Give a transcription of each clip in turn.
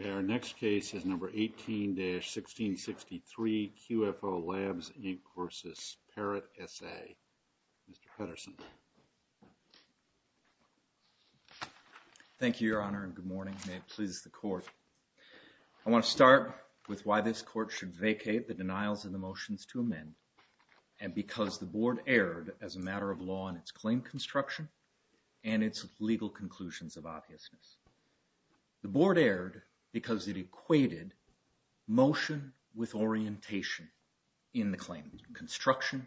Okay, our next case is number 18-1663, QFO Labs, Inc. This is a case of the court's decision to vacate the denials in the motions to amend and because the board erred as a matter of law in its claim construction and its legal conclusions of obviousness. The board erred because it equated motion with orientation in the claim construction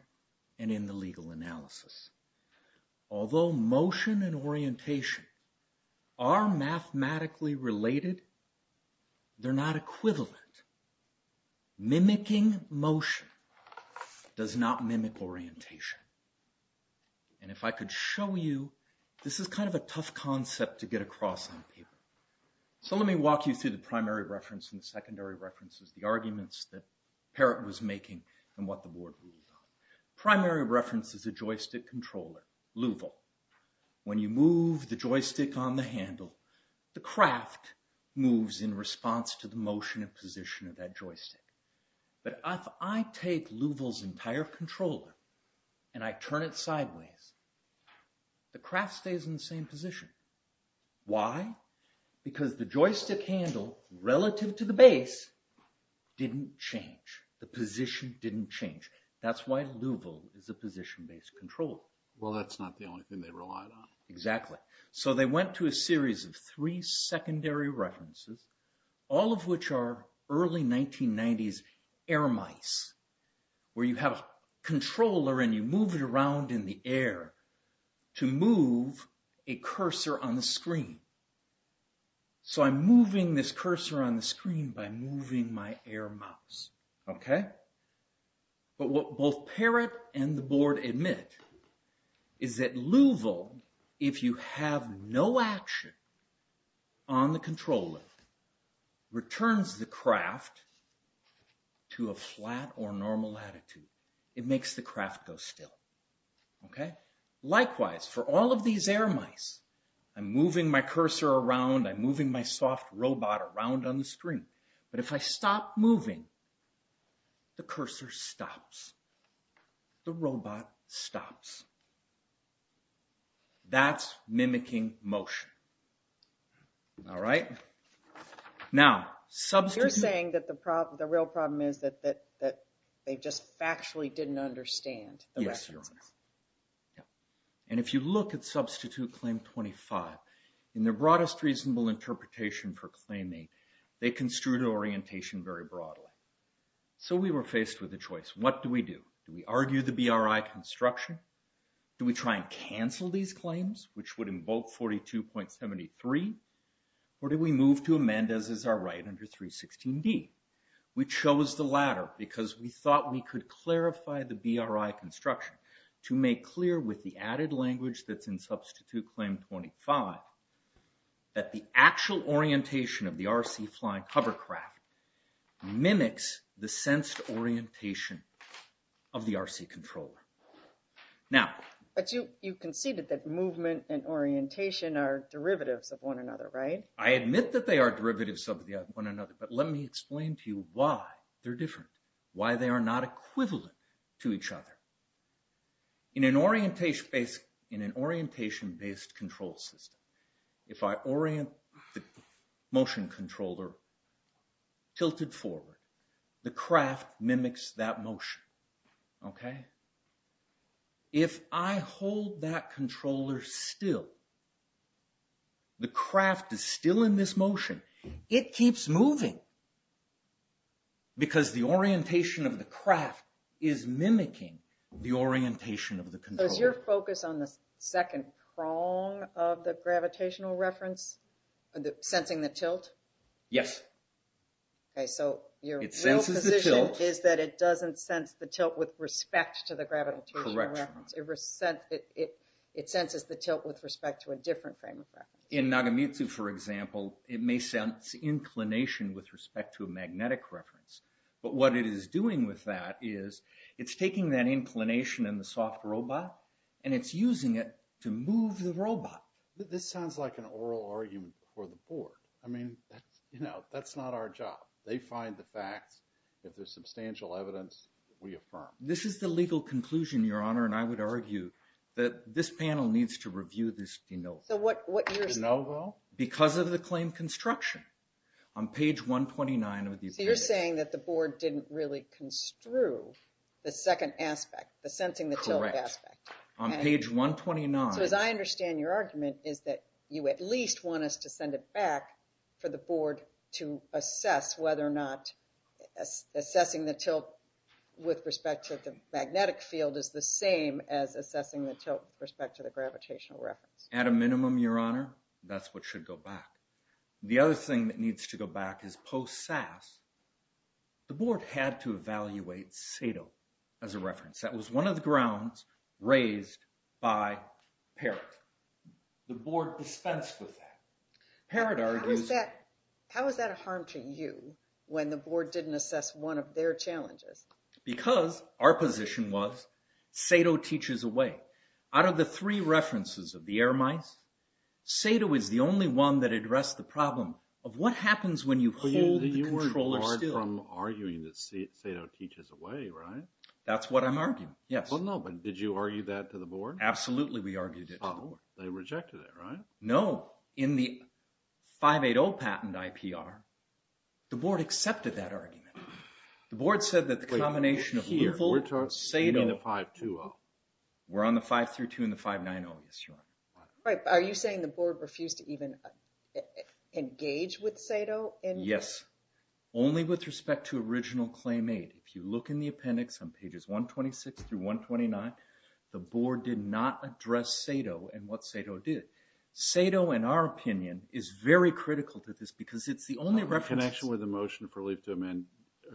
and in the legal analysis. Although motion and orientation are mathematically related, they're not equivalent. Mimicking motion does not mimic orientation and if I could show you, this is kind of a So let me walk you through the primary reference and the secondary references, the arguments that Parrott was making and what the board ruled on. Primary reference is a joystick controller, Louisville. When you move the joystick on the handle, the craft moves in response to the motion and position of that joystick. But if I take Louisville's entire controller and I turn it sideways, the craft stays in the same position. Why? Because the joystick handle, relative to the base, didn't change. The position didn't change. That's why Louisville is a position-based controller. Well, that's not the only thing they relied on. Exactly. So they went to a series of three secondary references, all of which are early 1990s air mice, where you have a controller and you move it around in the air to move a cursor on the screen. So I'm moving this cursor on the screen by moving my air mouse, okay? But what both Parrott and the board admit is that Louisville, if you have no action on the controller, returns the craft to a flat or normal latitude, it makes the craft go still. Okay? Likewise, for all of these air mice, I'm moving my cursor around, I'm moving my soft robot around on the screen, but if I stop moving, the cursor stops. The robot stops. That's mimicking motion. All right? Now, substitute... You're saying that the real problem is that they just factually didn't understand the references. Yes, Your Honor. And if you look at Substitute Claim 25, in their broadest reasonable interpretation for claiming, they construed orientation very broadly. So we were faced with a choice. What do we do? Do we argue the BRI construction? Do we try and cancel these claims, which would invoke 42.73? Or do we move to amend as is our right under 316D? We chose the latter because we thought we could clarify the BRI construction to make clear with the added language that's in Substitute Claim 25 that the actual orientation of the RC controller. Now... But you conceded that movement and orientation are derivatives of one another, right? I admit that they are derivatives of one another, but let me explain to you why they're different, why they are not equivalent to each other. In an orientation-based control system, if I orient the motion controller tilted forward, the craft mimics that motion. Okay? If I hold that controller still, the craft is still in this motion. It keeps moving. Because the orientation of the craft is mimicking the orientation of the controller. So is your focus on the second prong of the gravitational reference? Sensing the tilt? Yes. Okay, so your real position is that it doesn't sense the tilt with respect to the gravitational reference. Correct. It senses the tilt with respect to a different frame of reference. In Nagamitsu, for example, it may sense inclination with respect to a magnetic reference. But what it is doing with that is it's taking that inclination in the soft robot and it's using it to move the robot. This sounds like an oral argument for the board. I mean, that's not our job. They find the facts. If there's substantial evidence, we affirm. This is the legal conclusion, Your Honor, and I would argue that this panel needs to review this de novo. De novo? Because of the claim construction. On page 129 of the opinion. So you're saying that the board didn't really construe the second aspect, the sensing the tilt aspect. Correct. On page 129. So as I understand your argument is that you at least want us to send it back for the board to assess whether or not assessing the tilt with respect to the magnetic field is the same as assessing the tilt with respect to the gravitational reference. At a minimum, Your Honor, that's what should go back. The other thing that needs to go back is post-SAS, the board had to evaluate SATO as a reference. That was one of the grounds raised by Parrott. The board dispensed with that. Parrott argues. How is that a harm to you when the board didn't assess one of their challenges? Because our position was SATO teaches away. Out of the three references of the Air Mice, SATO is the only one that addressed the problem of what happens when you hold the controller still. You weren't barred from arguing that SATO teaches away, right? That's what I'm arguing, yes. Well, no, but did you argue that to the board? Absolutely, we argued it to the board. They rejected it, right? No. In the 580 patent IPR, the board accepted that argument. The board said that the combination of lethal, SATO. You mean the 520? We're on the 532 and the 590, yes, Your Honor. Are you saying the board refused to even engage with SATO? Yes. Only with respect to original claim aid. If you look in the appendix on pages 126 through 129, the board did not address SATO and what SATO did. SATO, in our opinion, is very critical to this because it's the only reference. In connection with the motion of relief to amend,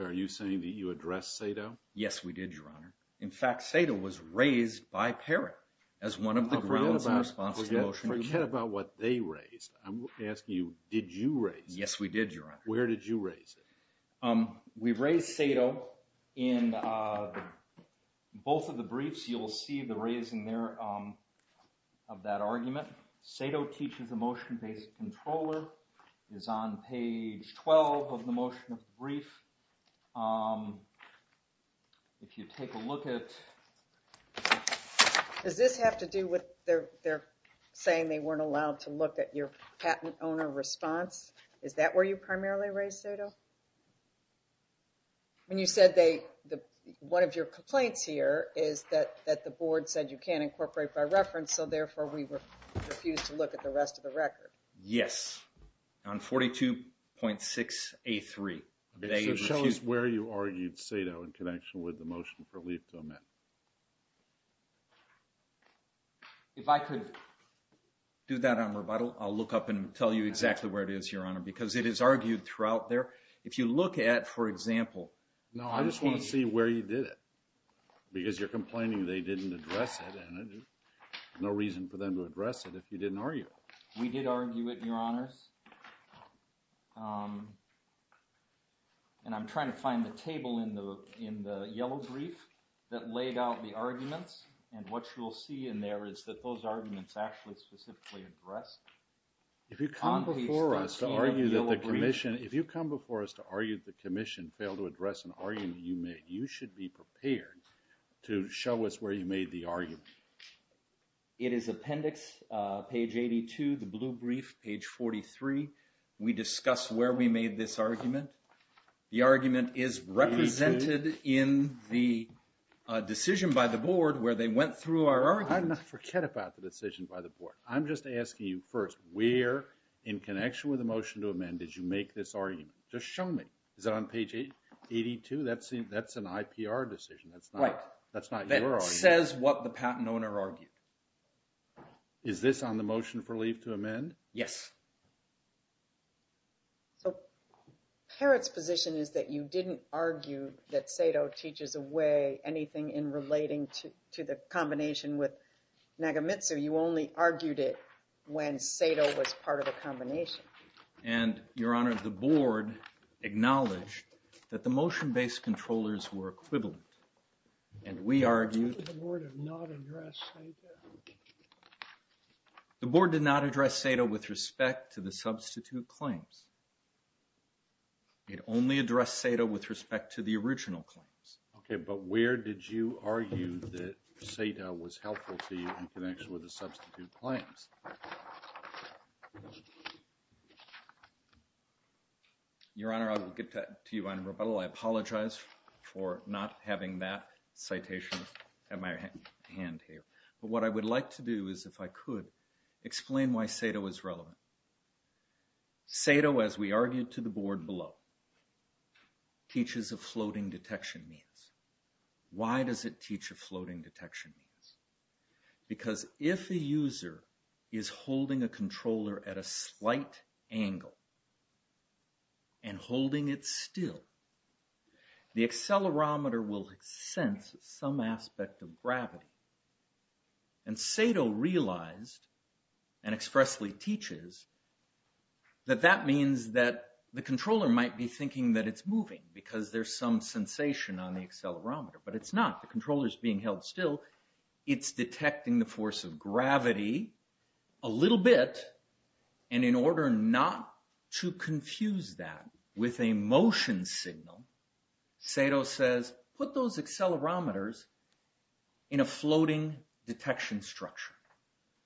are you saying that you addressed SATO? Yes, we did, Your Honor. In fact, SATO was raised by Parrott as one of the grounds in response to the motion. Forget about what they raised. I'm asking you, did you raise? Yes, we did, Your Honor. Where did you raise it? We raised SATO in both of the briefs. You'll see the raising there of that argument. SATO teaches a motion-based controller. It's on page 12 of the motion of the brief. If you take a look at... Does this have to do with their saying they weren't allowed to look at your patent owner response? Is that where you primarily raised SATO? When you said one of your complaints here is that the board said you can't incorporate by reference, so therefore we refused to look at the rest of the record. Yes, on 42.6A3. Show us where you argued SATO in connection with the motion for leave to amend. If I could do that on rebuttal, I'll look up and tell you exactly where it is, Your Honor, because it is argued throughout there. If you look at, for example... No, I just want to see where you did it, because you're complaining they didn't address it, and there's no reason for them to address it if you didn't argue it. We did argue it, Your Honors. And I'm trying to find the table in the yellow brief that laid out the arguments, and what you'll see in there is that those arguments actually specifically addressed... If you come before us to argue that the commission failed to address an argument you made, you should be prepared to show us where you made the argument. It is appendix, page 82, the blue brief, page 43. We discuss where we made this argument. The argument is represented in the decision by the board where they went through our argument. I'm not forget about the decision by the board. I'm just asking you first, where, in connection with the motion to amend, did you make this argument? Just show me. Is it on page 82? That's an IPR decision. That's not your argument. That says what the patent owner argued. Is this on the motion for leave to amend? Yes. So, Parrott's position is that you didn't argue that SATO teaches away anything in relating to the combination with Nagamitsu. You only argued it when SATO was part of a combination. And, Your Honor, the board acknowledged that the motion-based controllers were equivalent, and we argued... Why did the board not address SATO? The board did not address SATO with respect to the substitute claims. It only addressed SATO with respect to the original claims. Okay, but where did you argue that SATO was helpful to you in connection with the substitute claims? Your Honor, I will get to you on rebuttal. I apologize for not having that citation at my hand here. But what I would like to do is, if I could, explain why SATO is relevant. SATO, as we argued to the board below, teaches a floating detection means. Why does it teach a floating detection means? Because if a user is holding a controller at a slight angle and holding it still, the accelerometer will sense some aspect of gravity. And SATO realized, and expressly teaches, that that means that the controller might be thinking that it's moving, because there's some sensation on the accelerometer. But it's not. The controller is being held still. It's detecting the force of gravity a little bit. And in order not to confuse that with a motion signal, SATO says, put those accelerometers in a floating detection structure,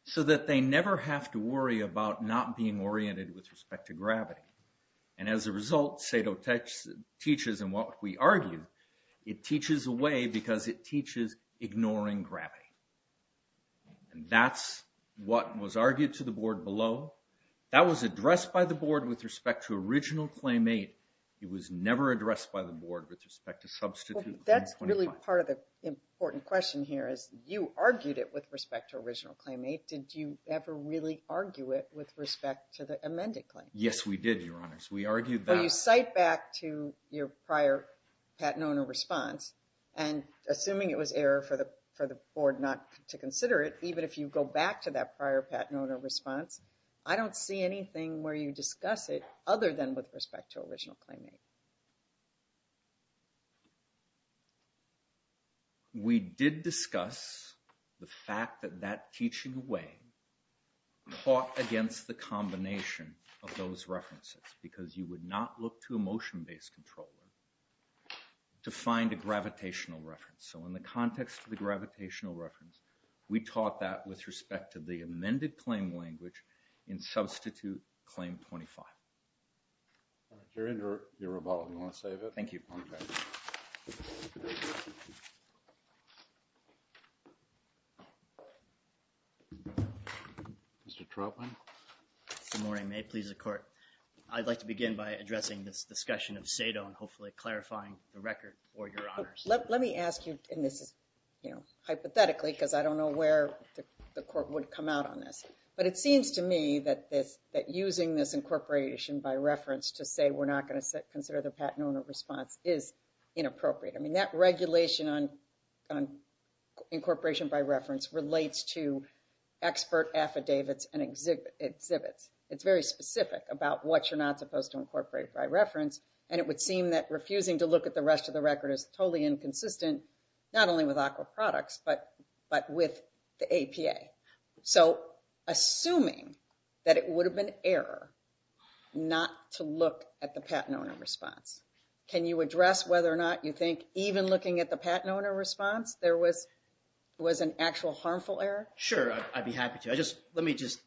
so that they never have to worry about not being oriented with respect to gravity. And as a result, SATO teaches, in what we argue, it teaches a way because it teaches ignoring gravity. And that's what was argued to the board below. That was addressed by the board with respect to Original Claim 8. It was never addressed by the board with respect to Substitute 125. That's really part of the important question here, is you argued it with respect to Original Claim 8. Did you ever really argue it with respect to the amended claim? Yes, we did, Your Honors. We argued that. When you cite back to your prior patent owner response, and assuming it was error for the board not to consider it, even if you go back to that prior patent owner response, I don't see anything where you discuss it other than with respect to Original Claim 8. We did discuss the fact that that teaching way caught against the combination of those references, because you would not look to a motion-based controller to find a gravitational reference. So in the context of the gravitational reference, we taught that with respect to the amended claim language in Substitute Claim 25. Your Honor, you're rebutted. Do you want to save it? Thank you. Mr. Trotman. Good morning. May it please the Court. I'd like to begin by addressing this discussion of Sado and hopefully clarifying the record for Your Honors. Let me ask you, and this is hypothetically, because I don't know where the Court would come out on this, but it seems to me that using this incorporation by reference to say we're not going to consider the patent owner response is inappropriate. I mean, that regulation on incorporation by reference relates to expert affidavits and exhibits. It's very specific about what you're not supposed to incorporate by reference, and it would seem that refusing to look at the rest of the record is totally inconsistent, not only with AQA products, but with the APA. So assuming that it would have been error not to look at the patent owner response, can you address whether or not you think even looking at the patent owner response there was an actual harmful error? Sure, I'd be happy to. Let me just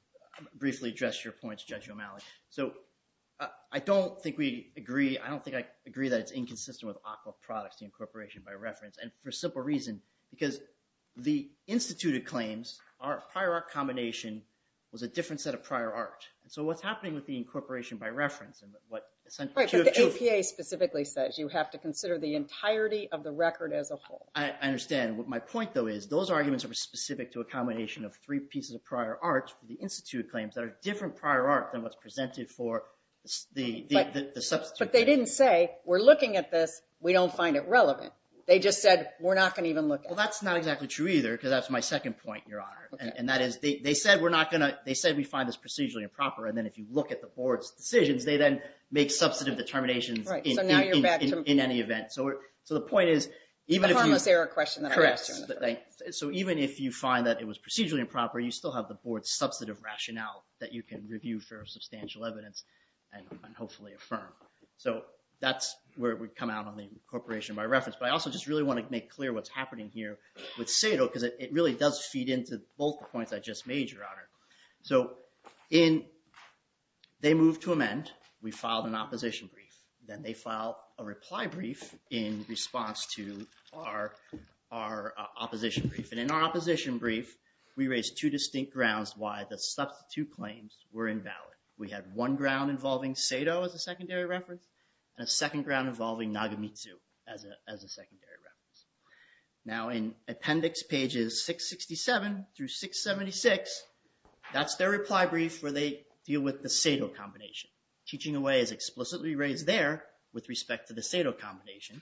briefly address your point, Judge O'Malley. So I don't think we agree. I don't think I agree that it's inconsistent with AQA products, the incorporation by reference, and for a simple reason, because the instituted claims are a prior art combination with a different set of prior art. So what's happening with the incorporation by reference? Right, but the APA specifically says you have to consider the entirety of the record as a whole. I understand. My point, though, is those arguments are specific to a combination of three pieces of prior art for the instituted claims that are different prior art than what's presented for the substituted. But they didn't say we're looking at this, we don't find it relevant. They just said we're not going to even look at it. Well, that's not exactly true either, because that's my second point, Your Honor. They said we find this procedurally improper, and then if you look at the board's decisions, they then make substantive determinations in any event. So the point is, even if you find that it was procedurally improper, you still have the board's substantive rationale that you can review for substantial evidence and hopefully affirm. So that's where it would come out on the incorporation by reference. But I also just really want to make clear what's happening here with Sado, So they moved to amend. We filed an opposition brief. Then they filed a reply brief in response to our opposition brief. And in our opposition brief, we raised two distinct grounds why the substitute claims were invalid. We had one ground involving Sado as a secondary reference, and a second ground involving Nagamitsu as a secondary reference. Now in appendix pages 667 through 676, that's their reply brief where they deal with the Sado combination. Teaching away is explicitly raised there with respect to the Sado combination.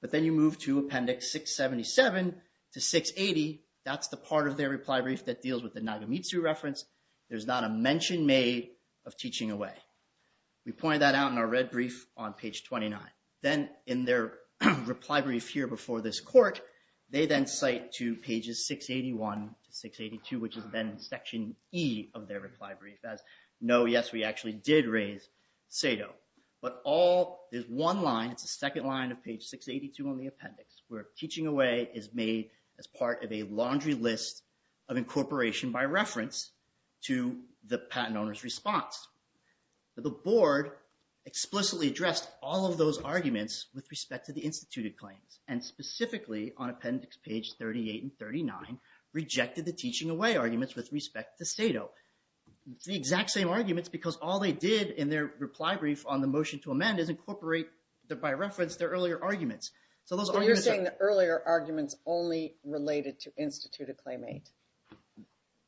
But then you move to appendix 677 to 680. That's the part of their reply brief that deals with the Nagamitsu reference. There's not a mention made of teaching away. We pointed that out in our red brief on page 29. Then in their reply brief here before this court, they then cite to pages 681 to 682, which is then section E of their reply brief as, no, yes, we actually did raise Sado. But there's one line, it's the second line of page 682 on the appendix, where teaching away is made as part of a laundry list of incorporation by reference to the patent owner's response. The board explicitly addressed all of those arguments with respect to the instituted claims, and specifically on appendix page 38 and 39, rejected the teaching away arguments with respect to Sado. It's the exact same arguments because all they did in their reply brief on the motion to amend is incorporate, by reference, their earlier arguments. You're saying the earlier arguments only related to instituted claimant?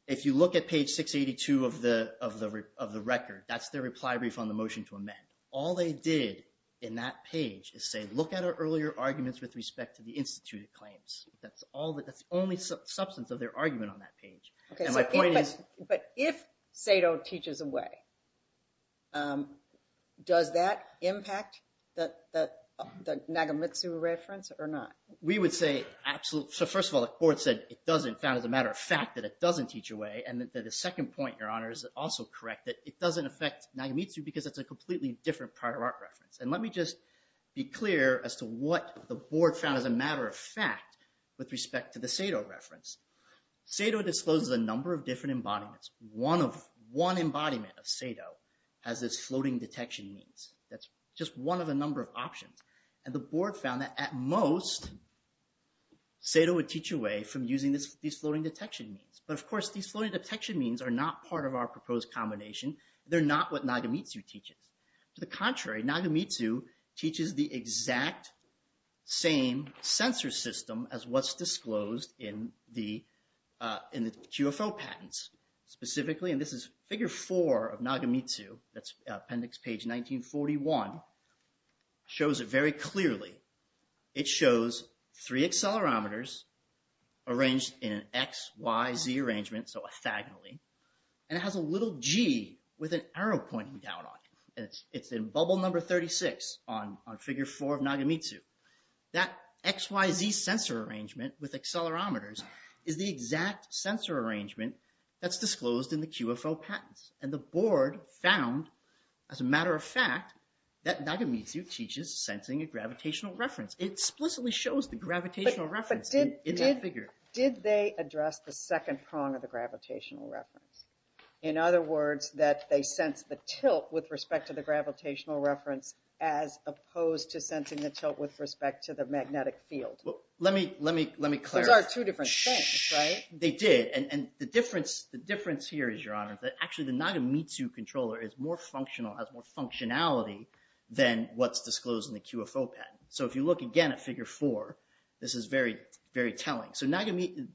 If you look at page 682 of the record, that's their reply brief on the motion to amend. All they did in that page is say, look at our earlier arguments with respect to the instituted claims. That's the only substance of their argument on that page. But if Sado teaches away, does that impact the Nagamitsu reference or not? First of all, the court said it doesn't, found as a matter of fact that it doesn't teach away. The second point, Your Honor, is also correct, that it doesn't affect Nagamitsu because it's a completely different prior art reference. Let me just be clear as to what the board found as a matter of fact with respect to the Sado reference. Sado discloses a number of different embodiments. One embodiment of Sado has this floating detection means. That's just one of a number of options. The board found that at most, Sado would teach away from using these floating detection means. But of course, these floating detection means are not part of our proposed combination. They're not what Nagamitsu teaches. To the contrary, Nagamitsu teaches the exact same sensor system as what's disclosed in the QFO patents. Specifically, and this is figure four of Nagamitsu, that's appendix page 1941, shows it very clearly. It shows three accelerometers arranged in an X, Y, Z arrangement, so orthogonally. It has a little G with an arrow pointing down on it. It's in bubble number 36 on figure four of Nagamitsu. That X, Y, Z sensor arrangement with accelerometers is the exact sensor arrangement that's disclosed in the QFO patents. The board found, as a matter of fact, that Nagamitsu teaches sensing a gravitational reference. It explicitly shows the gravitational reference in that figure. Did they address the second prong of the gravitational reference? In other words, that they sense the tilt with respect to the gravitational reference as opposed to sensing the tilt with respect to the magnetic field? Let me clarify. Those are two different things, right? They did. The difference here is, Your Honor, that actually the Nagamitsu controller is more functional, has more functionality than what's disclosed in the QFO patent. If you look again at figure four, this is very telling.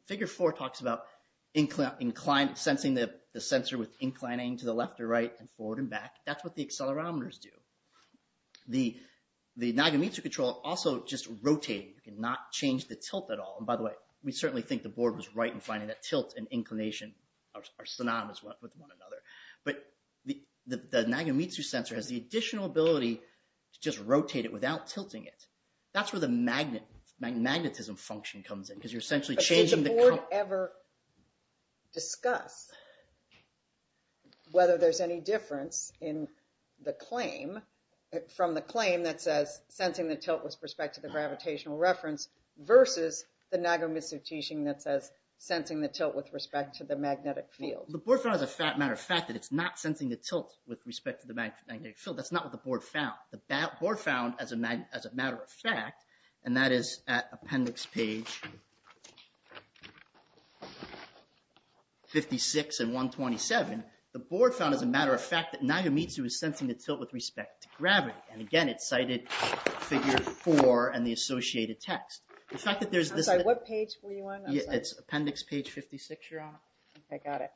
Figure four talks about sensing the sensor with inclining to the left or right, and forward and back. That's what the accelerometers do. The Nagamitsu controller also just rotates. You cannot change the tilt at all. By the way, we certainly think the board was right in finding that tilt and inclination are synonymous with one another. But the Nagamitsu sensor has the additional ability to just rotate it without tilting it. That's where the magnetism function comes in because you're essentially changing the… Did the board ever discuss whether there's any difference in the claim, from the claim that says sensing the tilt with respect to the gravitational reference versus the Nagamitsu teaching that says sensing the tilt with respect to the magnetic field? The board found as a matter of fact that it's not sensing the tilt with respect to the magnetic field. That's not what the board found. The board found as a matter of fact, and that is at appendix page 56 and 127, the board found as a matter of fact that Nagamitsu is sensing the tilt with respect to gravity. Again, it cited figure four and the associated text. The fact that there's this… I'm sorry, what page were you on? It's appendix page 56, Your Honor. I got it.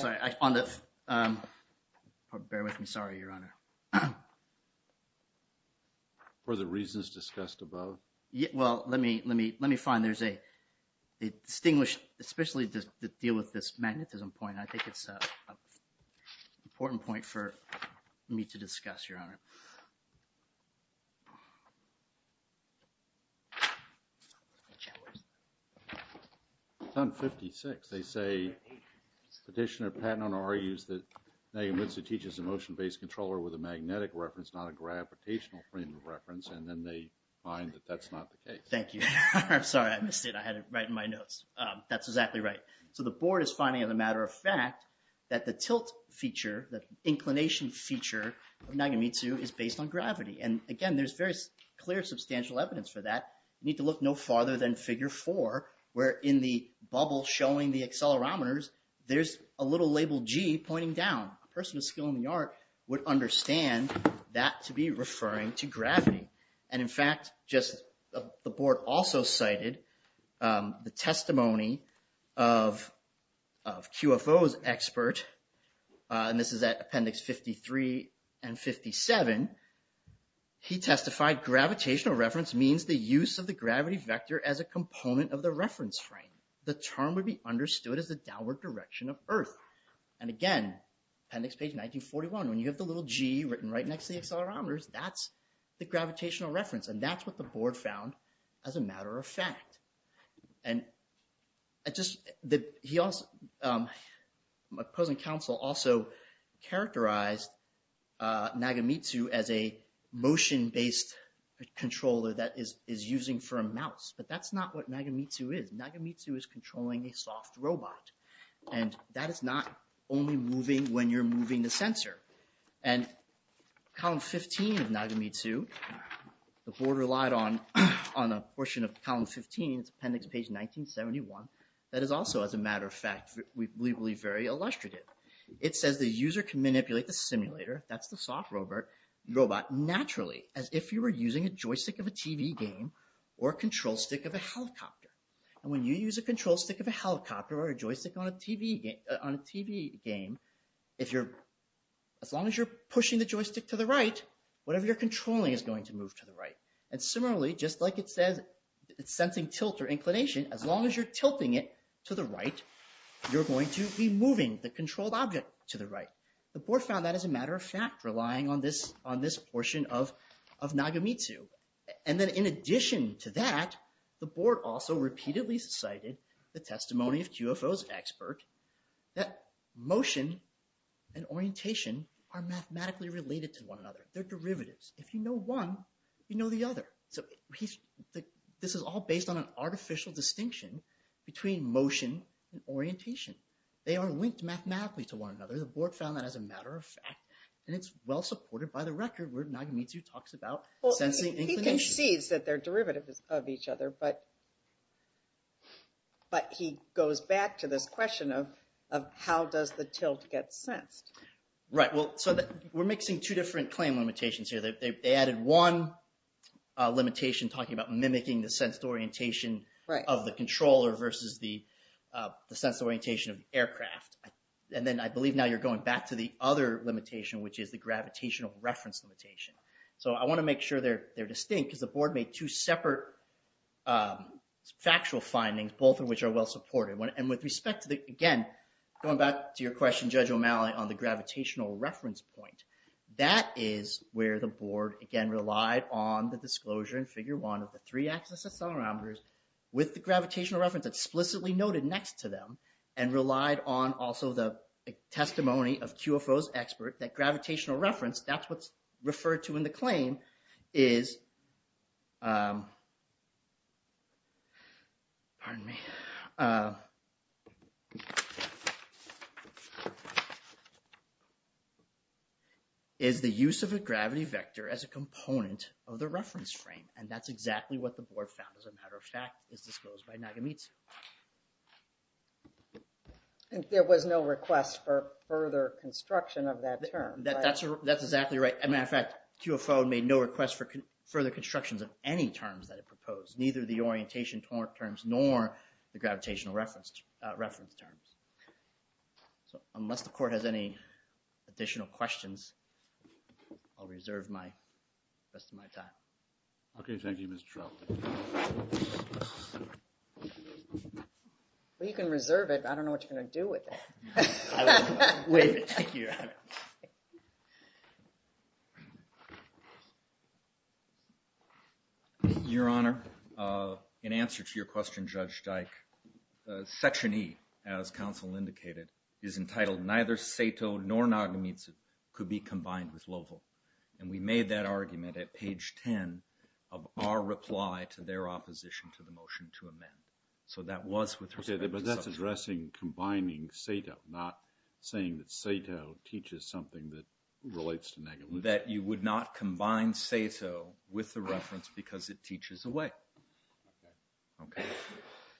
Sorry. Bear with me. Sorry, Your Honor. Were the reasons discussed above? Well, let me find. There's a distinguished, especially to deal with this magnetism point. I think it's an important point for me to discuss, Your Honor. It's on 56. They say Petitioner Patton argues that Nagamitsu teaches a motion-based controller with a magnetic reference, not a gravitational frame of reference, and then they find that that's not the case. Thank you. I'm sorry. I missed it. I had it right in my notes. That's exactly right. So the board is finding as a matter of fact that the tilt feature, the inclination feature of Nagamitsu is based on gravity. And again, there's very clear substantial evidence for that. You need to look no farther than figure four where in the bubble showing the accelerometers, there's a little label G pointing down. A person with skill in the art would understand that to be referring to gravity. And in fact, the board also cited the testimony of QFO's expert, and this is at appendix 53 and 57. He testified gravitational reference means the use of the gravity vector as a component of the reference frame. The term would be understood as the downward direction of Earth. And again, appendix page 1941, when you have the little G written right next to the accelerometers, that's the gravitational reference. And that's what the board found as a matter of fact. And he also, opposing counsel also characterized Nagamitsu as a motion-based controller that is using for a mouse. But that's not what Nagamitsu is. Nagamitsu is controlling a soft robot. And that is not only moving when you're moving the sensor. And column 15 of Nagamitsu, the board relied on a portion of column 15, appendix page 1971, that is also, as a matter of fact, we believe very illustrative. It says the user can manipulate the simulator, that's the soft robot, naturally, as if you were using a joystick of a TV game or a control stick of a helicopter. And when you use a control stick of a helicopter or a joystick on a TV game, as long as you're pushing the joystick to the right, whatever you're controlling is going to move to the right. And similarly, just like it says it's sensing tilt or inclination, as long as you're tilting it to the right, you're going to be moving the controlled object to the right. The board found that as a matter of fact, relying on this portion of Nagamitsu. And then in addition to that, the board also repeatedly cited the testimony of QFO's expert, that motion and orientation are mathematically related to one another. They're derivatives. If you know one, you know the other. So this is all based on an artificial distinction between motion and orientation. They are linked mathematically to one another. The board found that as a matter of fact. And it's well supported by the record where Nagamitsu talks about sensing inclination. He concedes that they're derivatives of each other, but he goes back to this question of how does the tilt get sensed? Right. Well, so we're mixing two different claim limitations here. They added one limitation talking about mimicking the sensed orientation of the controller versus the sensed orientation of the aircraft. And then I believe now you're going back to the other limitation, which is the gravitational reference limitation. So I want to make sure they're distinct because the board made two separate factual findings, both of which are well supported. And with respect to the, again, going back to your question, Judge O'Malley, on the gravitational reference point, that is where the board, again, relied on the disclosure in figure one of the three axis accelerometers with the gravitational reference explicitly noted next to them and relied on also the testimony of QFO's expert that gravitational reference, that's what's referred to in the claim, is the use of a gravity vector as a component of the reference frame. And that's exactly what the board found. As a matter of fact, it's disclosed by Nagamitsu. There was no request for further construction of that term. That's exactly right. As a matter of fact, QFO made no request for further constructions of any terms that it proposed, neither the orientation terms nor the gravitational reference terms. So unless the court has any additional questions, I'll reserve the rest of my time. Okay. Thank you, Mr. Trout. Well, you can reserve it, but I don't know what you're going to do with it. I will waive it. Thank you, Your Honor. Your Honor, in answer to your question, Judge Dyke, Section E, as counsel indicated, is entitled, neither SATO nor Nagamitsu could be combined with LOVL. And we made that argument at page 10 of our reply to their opposition to the motion to amend. Okay, but that's addressing combining SATO, not saying that SATO teaches something that relates to Nagamitsu. That you would not combine SATO with the reference because it teaches away. Okay.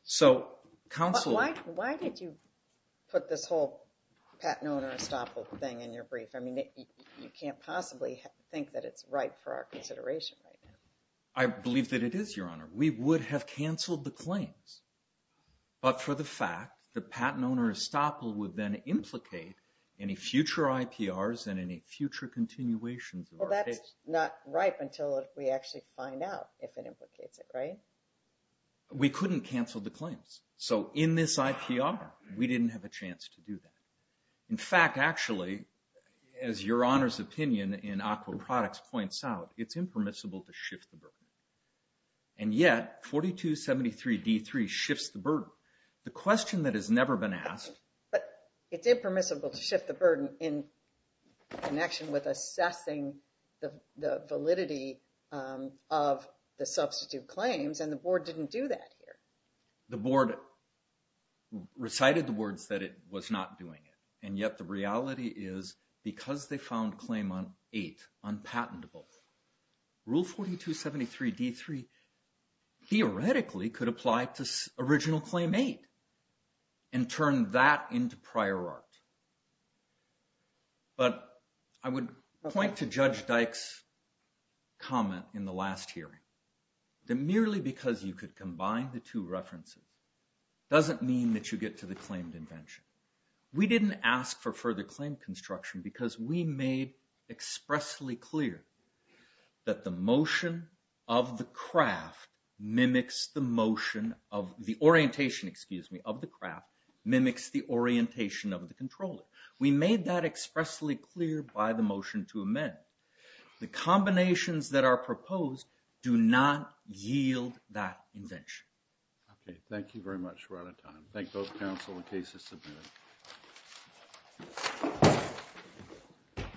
So counsel— But why did you put this whole patent owner estoppel thing in your brief? I mean, you can't possibly think that it's right for our consideration right now. I believe that it is, Your Honor. We would have canceled the claims. But for the fact, the patent owner estoppel would then implicate any future IPRs and any future continuations of our case. Well, that's not right until we actually find out if it implicates it, right? We couldn't cancel the claims. So in this IPR, we didn't have a chance to do that. In fact, actually, as Your Honor's opinion in AQUA Products points out, it's impermissible to shift the burden. And yet, 4273d3 shifts the burden. The question that has never been asked— But it's impermissible to shift the burden in connection with assessing the validity of the substitute claims, and the board didn't do that here. The board recited the words that it was not doing it, and yet the reality is, because they found claim on 8, unpatentable, Rule 4273d3 theoretically could apply to original claim 8 and turn that into prior art. But I would point to Judge Dyke's comment in the last hearing that merely because you could combine the two references doesn't mean that you get to the claimed invention. We didn't ask for further claim construction because we made expressly clear that the motion of the craft mimics the motion of the orientation, excuse me, of the craft mimics the orientation of the controller. We made that expressly clear by the motion to amend. The combinations that are proposed do not yield that invention. Okay, thank you very much. We're out of time. Thank both counsel and cases submitted.